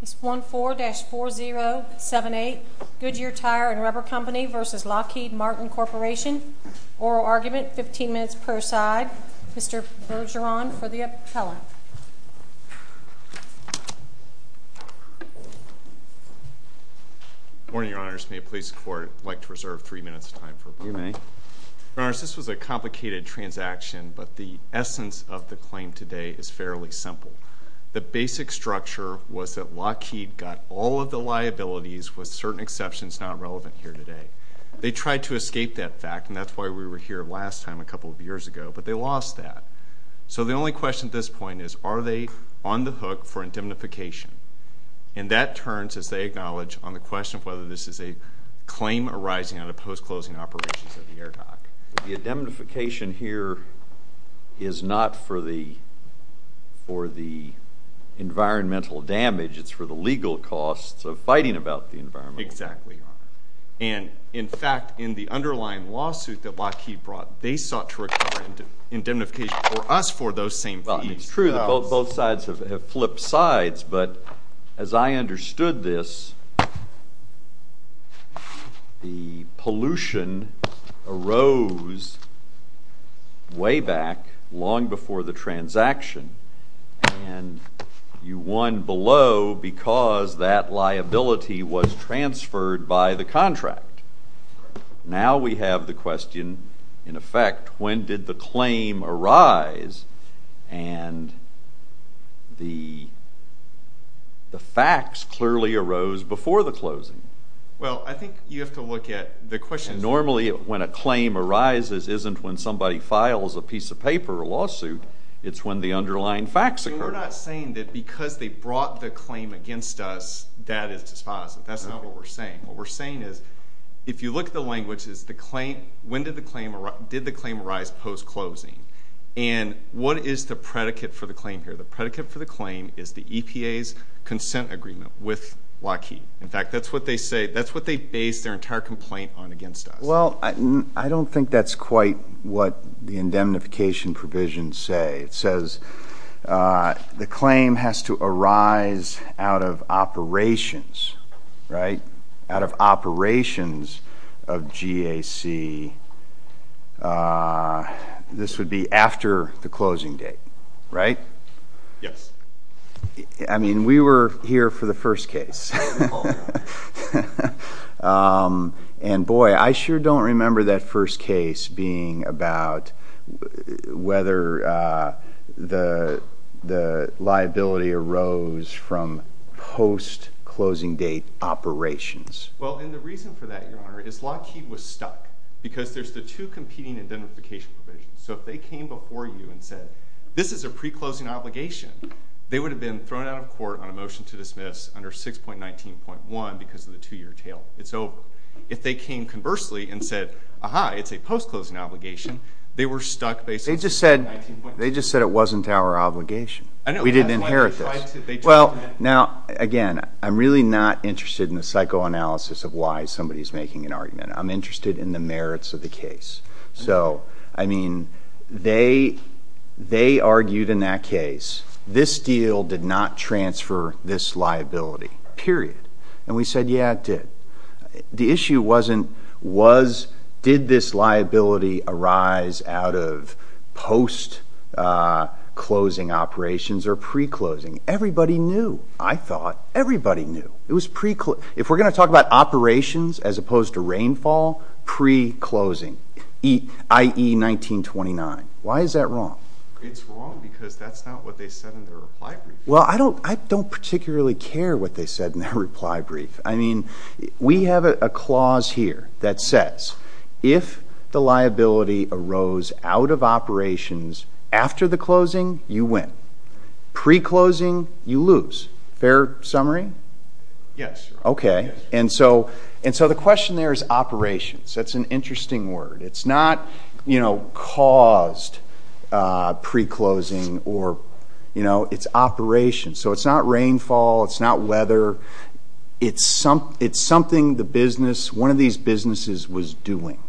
Case 14-4078 Goodyear Tire and Rubber Company v. Lockheed Martin Corp. Oral argument, 15 minutes per side. Mr. Bergeron for the appellant. Good morning, Your Honors. May the police and court like to reserve three minutes of time for approval? You may. Your Honors, this was a complicated transaction, but the essence of the claim today is fairly simple. The basic structure was that Lockheed got all of the liabilities with certain exceptions not relevant here today. They tried to escape that fact, and that's why we were here last time a couple of years ago, but they lost that. So the only question at this point is, are they on the hook for indemnification? And that turns, as they acknowledge, on the question of whether this is a claim arising out of post-closing operations at the air dock. The indemnification here is not for the environmental damage. It's for the legal costs of fighting about the environment. Exactly, Your Honor. And, in fact, in the underlying lawsuit that Lockheed brought, they sought to require indemnification for us for those same fees. It's true that both sides have flipped sides, but as I understood this, the pollution arose way back, long before the transaction, and you won below because that liability was transferred by the contract. Now we have the question, in effect, when did the claim arise, and the facts clearly arose before the closing. Well, I think you have to look at the question. Normally, when a claim arises isn't when somebody files a piece of paper, a lawsuit. It's when the underlying facts occur. We're not saying that because they brought the claim against us, that is dispositive. That's not what we're saying. What we're saying is, if you look at the language, when did the claim arise post-closing, and what is the predicate for the claim here? The predicate for the claim is the EPA's consent agreement with Lockheed. In fact, that's what they base their entire complaint on against us. Well, I don't think that's quite what the indemnification provisions say. It says the claim has to arise out of operations, right? Out of operations of GAC. This would be after the closing date, right? Yes. I mean, we were here for the first case. And boy, I sure don't remember that first case being about whether the liability arose from post-closing date operations. Well, and the reason for that, Your Honor, is Lockheed was stuck. Because there's the two competing indemnification provisions. So if they came before you and said, this is a pre-closing obligation, they would have been thrown out of court on a motion to dismiss under 6.19.1 because of the two-year tail. It's over. If they came conversely and said, aha, it's a post-closing obligation, they were stuck based on 6.19.1. They just said it wasn't our obligation. We didn't inherit this. Well, now, again, I'm really not interested in the psychoanalysis of why somebody is making an argument. I'm interested in the merits of the case. So, I mean, they argued in that case, this deal did not transfer this liability, period. And we said, yeah, it did. The issue wasn't did this liability arise out of post-closing operations or pre-closing. Everybody knew, I thought. Everybody knew. If we're going to talk about operations as opposed to rainfall, pre-closing, i.e., 1929. Why is that wrong? It's wrong because that's not what they said in their reply brief. Well, I don't particularly care what they said in their reply brief. I mean, we have a clause here that says if the liability arose out of operations after the closing, you win. Pre-closing, you lose. Fair summary? Yes. Okay. And so the question there is operations. That's an interesting word. It's not, you know, caused pre-closing or, you know, it's operations. So it's not rainfall. It's not weather. It's something the business, one of these businesses was doing.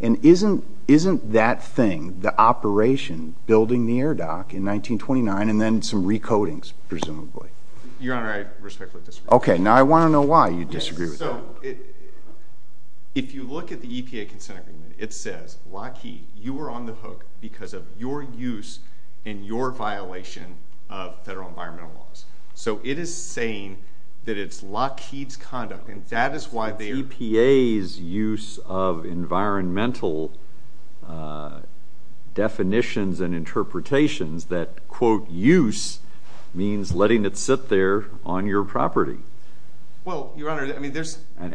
And isn't that thing, the operation, building the air dock in 1929 and then some recodings, presumably? Your Honor, I respectfully disagree. Okay. Now, I want to know why you disagree with that. So if you look at the EPA consent agreement, it says, Lockheed, you were on the hook because of your use and your violation of federal environmental laws. So it is saying that it's Lockheed's conduct. It's EPA's use of environmental definitions and interpretations that, quote, use means letting it sit there on your property. Well, Your Honor, I mean, there's And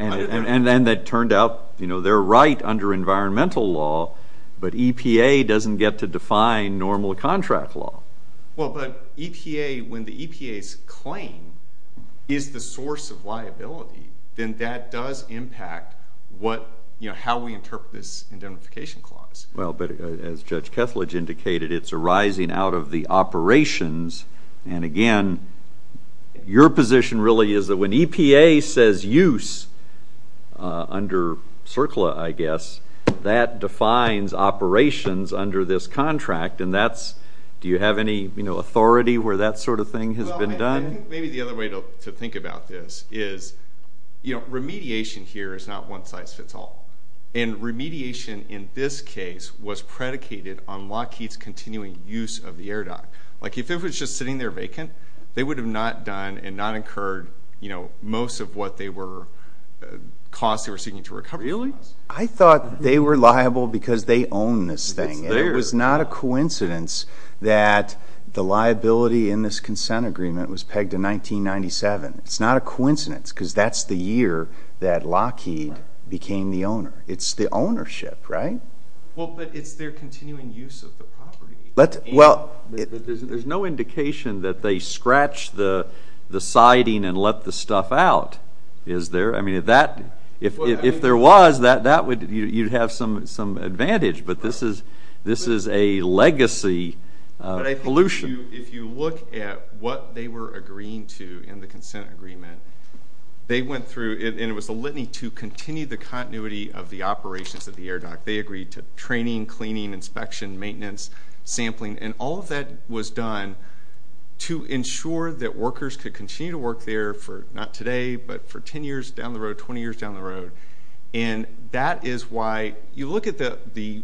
then it turned out, you know, they're right under environmental law, but EPA doesn't get to define normal contract law. Well, but EPA, when the EPA's claim is the source of liability, then that does impact what, you know, how we interpret this indemnification clause. Well, but as Judge Kethledge indicated, it's arising out of the operations. And, again, your position really is that when EPA says use under CERCLA, I guess, that defines operations under this contract. And that's, do you have any, you know, authority where that sort of thing has been done? Well, I think maybe the other way to think about this is, you know, remediation here is not one size fits all. And remediation in this case was predicated on Lockheed's continuing use of the air dock. Like, if it was just sitting there vacant, they would have not done and not incurred, you know, most of what they were, costs they were seeking to recover. Really? I thought they were liable because they own this thing. It was not a coincidence that the liability in this consent agreement was pegged in 1997. It's not a coincidence because that's the year that Lockheed became the owner. It's the ownership, right? Well, but it's their continuing use of the property. There's no indication that they scratched the siding and let the stuff out, is there? I mean, if there was, you'd have some advantage. But this is a legacy of pollution. If you look at what they were agreeing to in the consent agreement, they went through, and it was a litany to continue the continuity of the operations of the air dock. They agreed to training, cleaning, inspection, maintenance, sampling. And all of that was done to ensure that workers could continue to work there for, not today, but for 10 years down the road, 20 years down the road. And that is why you look at the,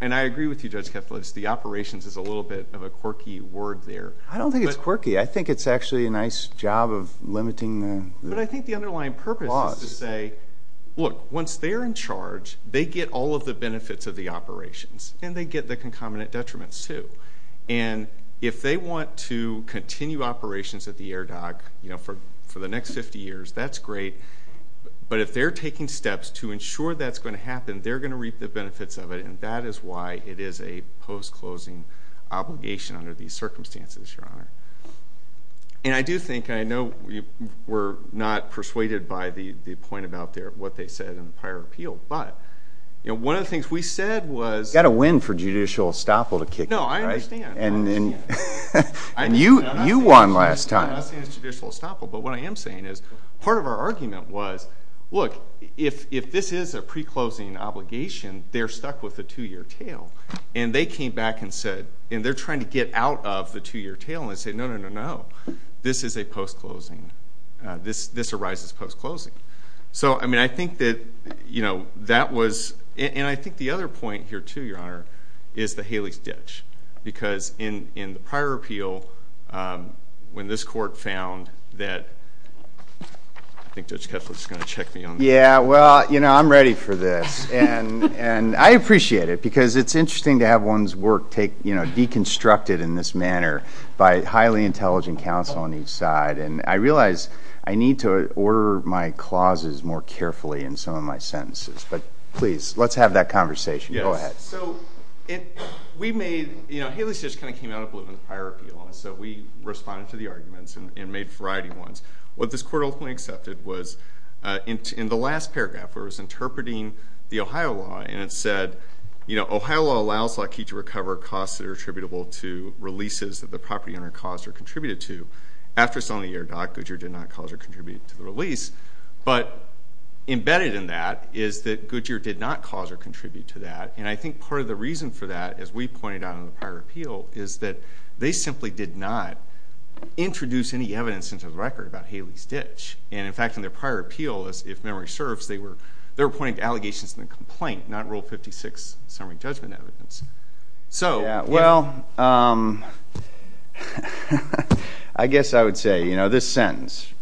and I agree with you, Judge Kethledge, the operations is a little bit of a quirky word there. I don't think it's quirky. I think it's actually a nice job of limiting the loss. But I think the underlying purpose is to say, look, once they're in charge, they get all of the benefits of the operations, and they get the concomitant detriments too. And if they want to continue operations at the air dock for the next 50 years, that's great. But if they're taking steps to ensure that's going to happen, they're going to reap the benefits of it, and that is why it is a post-closing obligation under these circumstances, Your Honor. And I do think, and I know we're not persuaded by the point about what they said in the prior appeal, but one of the things we said was... You've got to win for judicial estoppel to kick in, right? No, I understand. And you won last time. I'm not saying it's judicial estoppel, but what I am saying is part of our argument was, look, if this is a pre-closing obligation, they're stuck with the two-year tail. And they came back and said, and they're trying to get out of the two-year tail, and they said, no, no, no, no, this is a post-closing. This arises post-closing. So, I mean, I think that, you know, that was... And I think the other point here, too, Your Honor, is the Haley's ditch. Because in the prior appeal, when this court found that... I think Judge Kessler is going to check me on this. Yeah, well, you know, I'm ready for this. And I appreciate it because it's interesting to have one's work take, you know, deconstructed in this manner by highly intelligent counsel on each side. And I realize I need to order my clauses more carefully in some of my sentences. But, please, let's have that conversation. Yes. Go ahead. So, we made, you know, Haley's ditch kind of came out of the prior appeal. And so we responded to the arguments and made a variety of ones. What this court ultimately accepted was in the last paragraph, where it was interpreting the Ohio law, and it said, you know, Ohio law allows a law key to recover costs that are attributable to releases that the property owner caused or contributed to. After selling the air dock, Goodyear did not cause or contribute to the release. But embedded in that is that Goodyear did not cause or contribute to that. And I think part of the reason for that, as we pointed out in the prior appeal, is that they simply did not introduce any evidence into the record about Haley's ditch. And, in fact, in their prior appeal, if memory serves, they were pointing to allegations in the complaint, not Rule 56 summary judgment evidence. Yeah. Well, I guess I would say, you know, this sentence,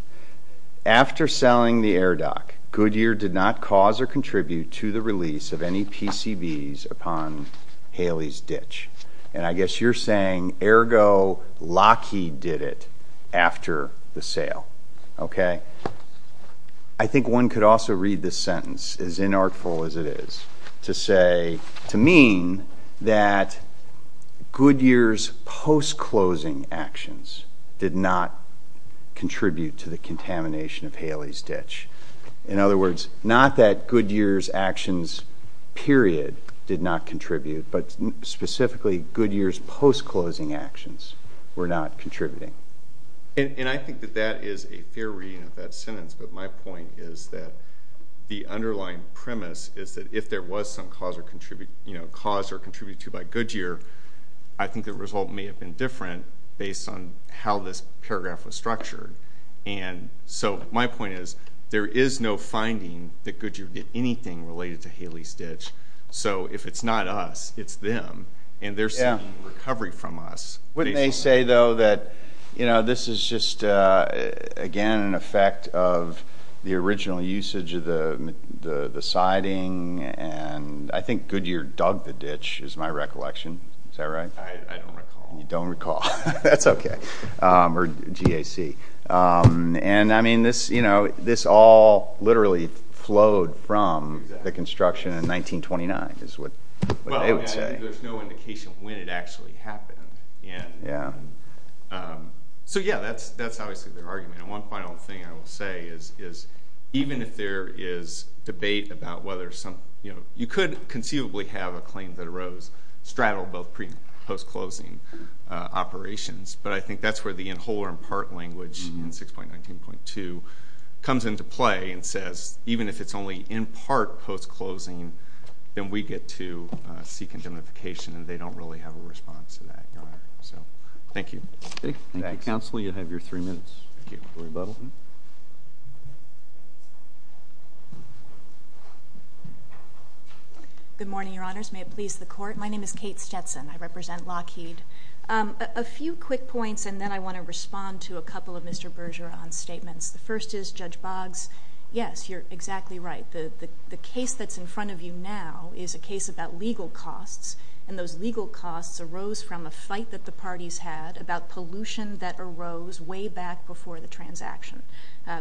after selling the air dock, Goodyear did not cause or contribute to the release of any PCBs upon Haley's ditch. And I guess you're saying, ergo, Lockheed did it after the sale. Okay. I think one could also read this sentence, as inartful as it is, to say, to mean that Goodyear's post-closing actions did not contribute to the contamination of Haley's ditch. In other words, not that Goodyear's actions, period, did not contribute, but specifically Goodyear's post-closing actions were not contributing. And I think that that is a fair reading of that sentence, but my point is that the underlying premise is that if there was some cause or contribute to by Goodyear, I think the result may have been different based on how this paragraph was structured. And so my point is there is no finding that Goodyear did anything related to Haley's ditch. So if it's not us, it's them, and they're seeking recovery from us. Wouldn't they say, though, that this is just, again, an effect of the original usage of the siding? And I think Goodyear dug the ditch is my recollection. Is that right? I don't recall. You don't recall. That's okay. Or GAC. And, I mean, this all literally flowed from the construction in 1929 is what they would say. Again, there's no indication when it actually happened. Yeah. So, yeah, that's obviously their argument. And one final thing I will say is even if there is debate about whether some – you could conceivably have a claim that arose straddle both pre- and post-closing operations, but I think that's where the in whole or in part language in 6.19.2 comes into play and says even if it's only in part post-closing, then we get to seek indemnification, and they don't really have a response to that, Your Honor. So, thank you. Thank you, Counsel. You have your three minutes for rebuttal. Good morning, Your Honors. May it please the Court. My name is Kate Stetson. I represent Lockheed. A few quick points, and then I want to respond to a couple of Mr. Bergeron's statements. The first is, Judge Boggs, yes, you're exactly right. The case that's in front of you now is a case about legal costs, and those legal costs arose from a fight that the parties had about pollution that arose way back before the transaction.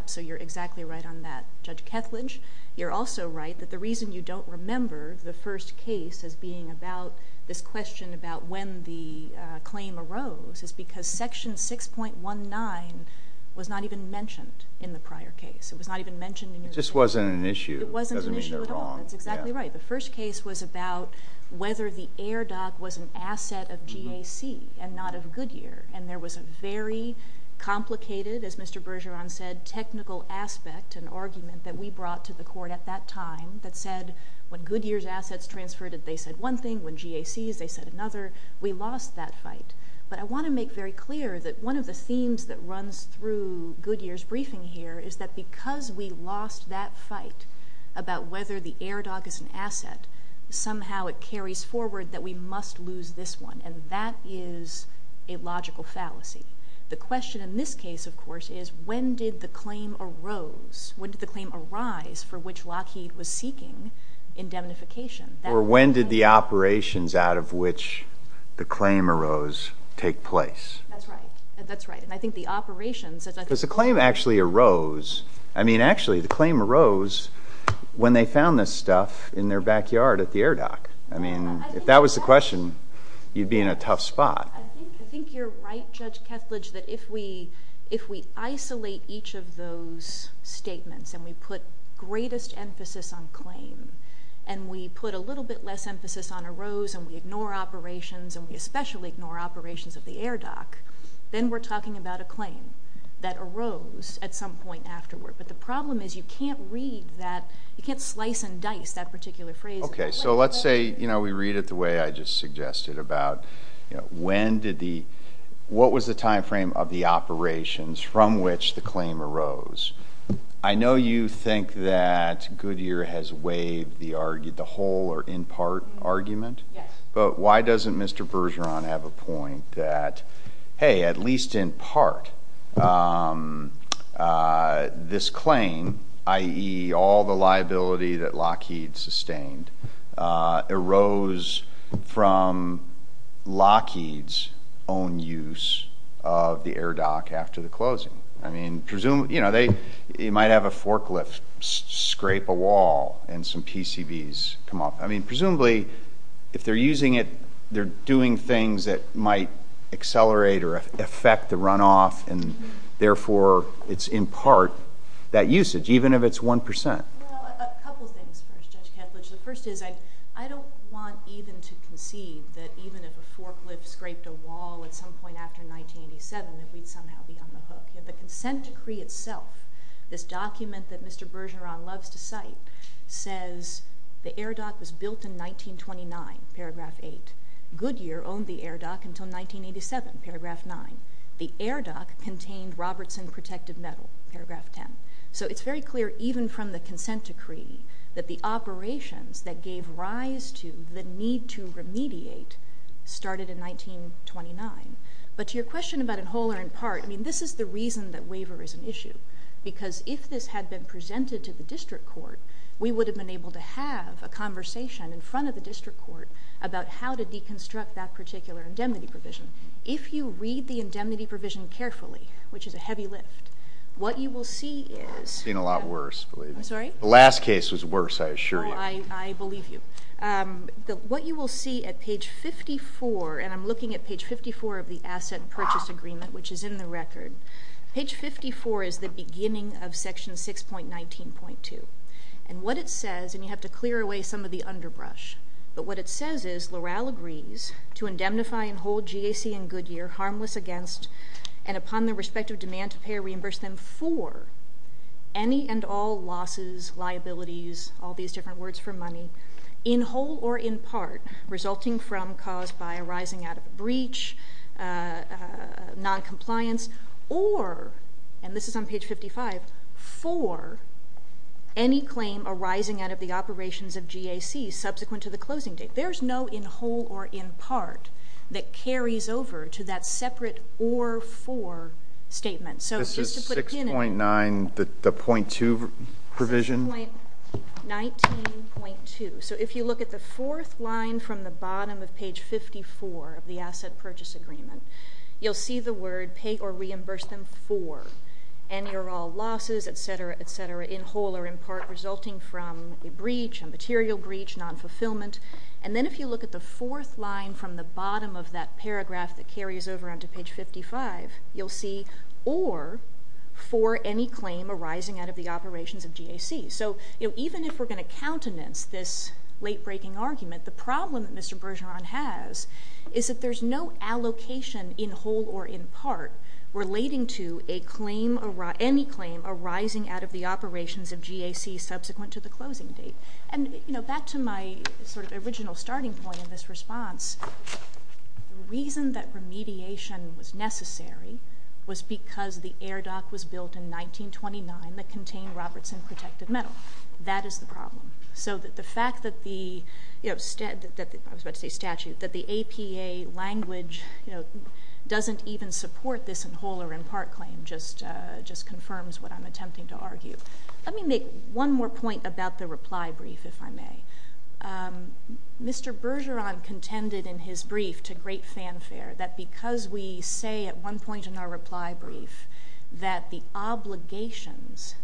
So you're exactly right on that. Judge Kethledge, you're also right that the reason you don't remember the first case as being about this question about when the claim arose is because Section 6.19 was not even mentioned in the prior case. It was not even mentioned in your... It just wasn't an issue. It wasn't an issue at all. It doesn't mean they're wrong. That's exactly right. The first case was about whether the air dock was an asset of GAC and not of Goodyear, and there was a very complicated, as Mr. Bergeron said, technical aspect and argument that we brought to the Court at that time that said when Goodyear's assets transferred, they said one thing. When GAC's, they said another. We lost that fight. But I want to make very clear that one of the themes that runs through Goodyear's briefing here is that because we lost that fight about whether the air dock is an asset, somehow it carries forward that we must lose this one, and that is a logical fallacy. The question in this case, of course, is when did the claim arose? When did the claim arise for which Lockheed was seeking indemnification? Or when did the operations out of which the claim arose take place? That's right. That's right, and I think the operations... Because the claim actually arose. I mean, actually, the claim arose when they found this stuff in their backyard at the air dock. I mean, if that was the question, you'd be in a tough spot. I think you're right, Judge Kethledge, that if we isolate each of those statements and we put greatest emphasis on claim and we put a little bit less emphasis on arose and we ignore operations and we especially ignore operations of the air dock, then we're talking about a claim that arose at some point afterward. But the problem is you can't read that. You can't slice and dice that particular phrase. Okay, so let's say we read it the way I just suggested about when did the... what was the time frame of the operations from which the claim arose? I know you think that Goodyear has waived the whole or in part argument, but why doesn't Mr. Bergeron have a point that, hey, at least in part, this claim, i.e., all the liability that Lockheed sustained, arose from Lockheed's own use of the air dock after the closing? I mean, you might have a forklift scrape a wall and some PCBs come off. I mean, presumably, if they're using it, they're doing things that might accelerate or affect the runoff, and therefore, it's in part that usage, even if it's 1%. Well, a couple things first, Judge Kethledge. The first is I don't want even to concede that even if a forklift scraped a wall at some point after 1987, that we'd somehow be on the hook. The consent decree itself, this document that Mr. Bergeron loves to cite, says the air dock was built in 1929, paragraph 8. Goodyear owned the air dock until 1987, paragraph 9. The air dock contained Robertson protective metal, paragraph 10. So it's very clear even from the consent decree that the operations that gave rise to the need to remediate started in 1929. But to your question about in whole or in part, I mean, this is the reason that waiver is an issue, because if this had been presented to the district court, we would have been able to have a conversation in front of the district court about how to deconstruct that particular indemnity provision. If you read the indemnity provision carefully, which is a heavy lift, what you will see is... It's been a lot worse, believe me. I'm sorry? The last case was worse, I assure you. I believe you. What you will see at page 54, and I'm looking at page 54 of the asset purchase agreement, which is in the record, page 54 is the beginning of section 6.19.2. And what it says, and you have to clear away some of the underbrush, but what it says is Loral agrees to indemnify and hold GAC and Goodyear harmless against and upon their respective demand to pay or reimburse them for any and all losses, liabilities, all these different words for money, in whole or in part, resulting from cause by arising out of a breach, noncompliance, or, and this is on page 55, for any claim arising out of the operations of GAC subsequent to the closing date. There's no in whole or in part that carries over to that separate or for statement. This is 6.9, the .2 provision? 6.19.2. So if you look at the fourth line from the bottom of page 54 of the asset purchase agreement, you'll see the word pay or reimburse them for any or all losses, et cetera, et cetera, in whole or in part resulting from a breach, a material breach, nonfulfillment. And then if you look at the fourth line from the bottom of that paragraph that carries over onto page 55, you'll see or for any claim arising out of the operations of GAC. So even if we're going to countenance this late-breaking argument, the problem that Mr. Bergeron has is that there's no allocation in whole or in part relating to a claim, any claim arising out of the operations of GAC subsequent to the closing date. And, you know, back to my sort of original starting point in this response, the reason that remediation was necessary was because the air dock was built in 1929 that contained Robertson protected metal. That is the problem. So the fact that the, you know, I was about to say statute, that the APA language doesn't even support this in whole or in part claim just confirms what I'm attempting to argue. Let me make one more point about the reply brief, if I may. Mr. Bergeron contended in his brief to great fanfare that because we say at one point in our reply brief that the obligations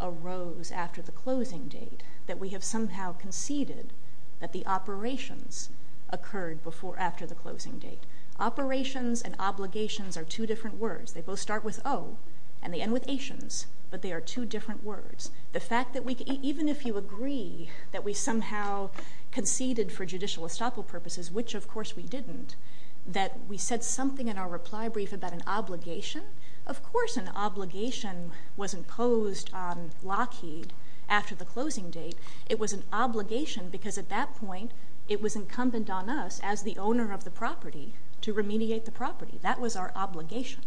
arose after the closing date, that we have somehow conceded that the operations occurred before after the closing date. Operations and obligations are two different words. They both start with O and they end with ations, but they are two different words. The fact that even if you agree that we somehow conceded for judicial estoppel purposes, which of course we didn't, that we said something in our reply brief about an obligation, of course an obligation was imposed on Lockheed after the closing date. It was an obligation because at that point it was incumbent on us as the owner of the property to remediate the property. That was our obligation.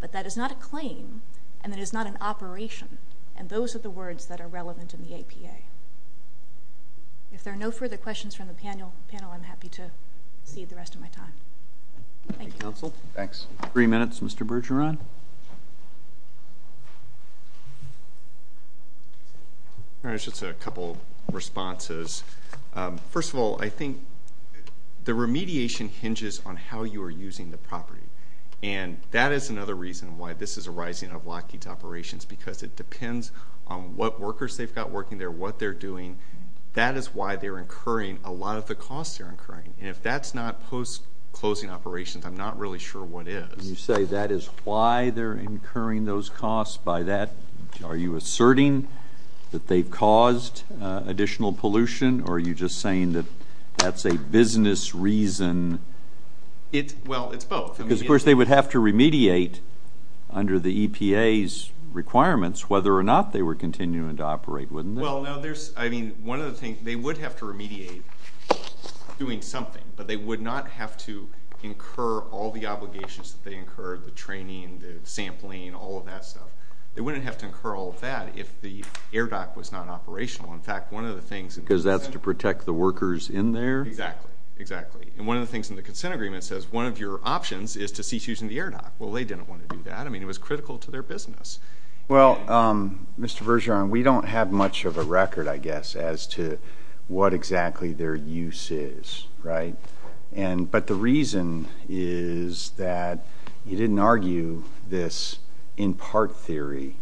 But that is not a claim and it is not an operation, and those are the words that are relevant in the APA. If there are no further questions from the panel, I'm happy to cede the rest of my time. Thank you. Thank you, counsel. Thanks. Three minutes, Mr. Bergeron. All right, just a couple of responses. First of all, I think the remediation hinges on how you are using the property, and that is another reason why this is a rising of Lockheed's operations because it depends on what workers they've got working there, what they're doing. That is why they're incurring a lot of the costs they're incurring, and if that's not post-closing operations, I'm not really sure what is. You say that is why they're incurring those costs. By that, are you asserting that they've caused additional pollution or are you just saying that that's a business reason? Well, it's both. Because, of course, they would have to remediate under the EPA's requirements whether or not they were continuing to operate, wouldn't they? One of the things, they would have to remediate doing something, but they would not have to incur all the obligations that they incurred, the training, the sampling, all of that stuff. They wouldn't have to incur all of that if the air dock was not operational. Because that's to protect the workers in there? Exactly. And one of the things in the consent agreement says one of your options is to cease using the air dock. Well, they didn't want to do that. I mean, it was critical to their business. Well, Mr. Bergeron, we don't have much of a record, I guess, as to what exactly their use is, right? But the reason is that you didn't argue this in part theory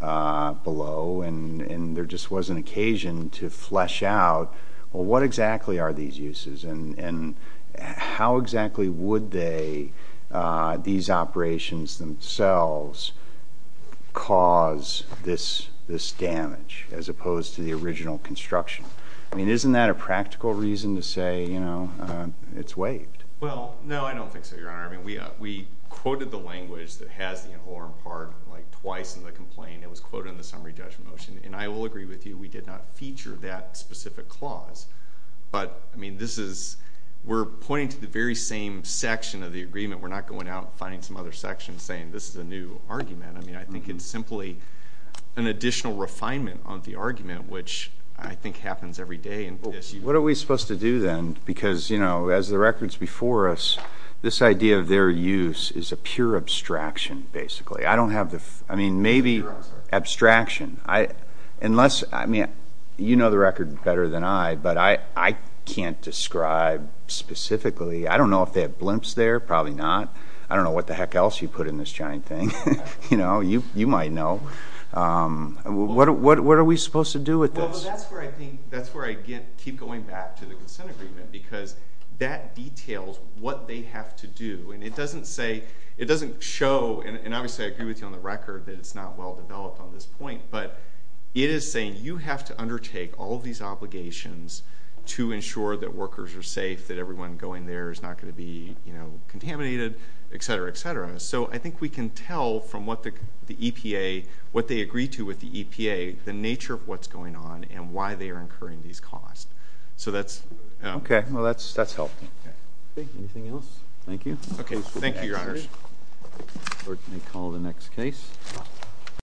below, and there just was an occasion to flesh out, well, what exactly are these uses and how exactly would these operations themselves cause this damage as opposed to the original construction? I mean, isn't that a practical reason to say, you know, it's waived? Well, no, I don't think so, Your Honor. I mean, we quoted the language that has the inhorn part like twice in the complaint. It was quoted in the summary judgment motion, and I will agree with you. We did not feature that specific clause. But, I mean, this is we're pointing to the very same section of the agreement. We're not going out and finding some other section saying this is a new argument. Which I think happens every day. What are we supposed to do then? Because, you know, as the records before us, this idea of their use is a pure abstraction, basically. I don't have the, I mean, maybe abstraction. Unless, I mean, you know the record better than I, but I can't describe specifically. I don't know if they have blimps there. Probably not. I don't know what the heck else you put in this giant thing. You know, you might know. What are we supposed to do with this? Well, that's where I think, that's where I keep going back to the consent agreement. Because that details what they have to do. And it doesn't say, it doesn't show, and obviously I agree with you on the record, that it's not well developed on this point. But it is saying you have to undertake all these obligations to ensure that workers are safe, that everyone going there is not going to be, you know, contaminated, et cetera, et cetera. So I think we can tell from what the EPA, what they agree to with the EPA, the nature of what's going on and why they are incurring these costs. So that's... Okay. Well, that's helpful. Anything else? Thank you. Okay. Thank you, Your Honors. The Court may call the next case.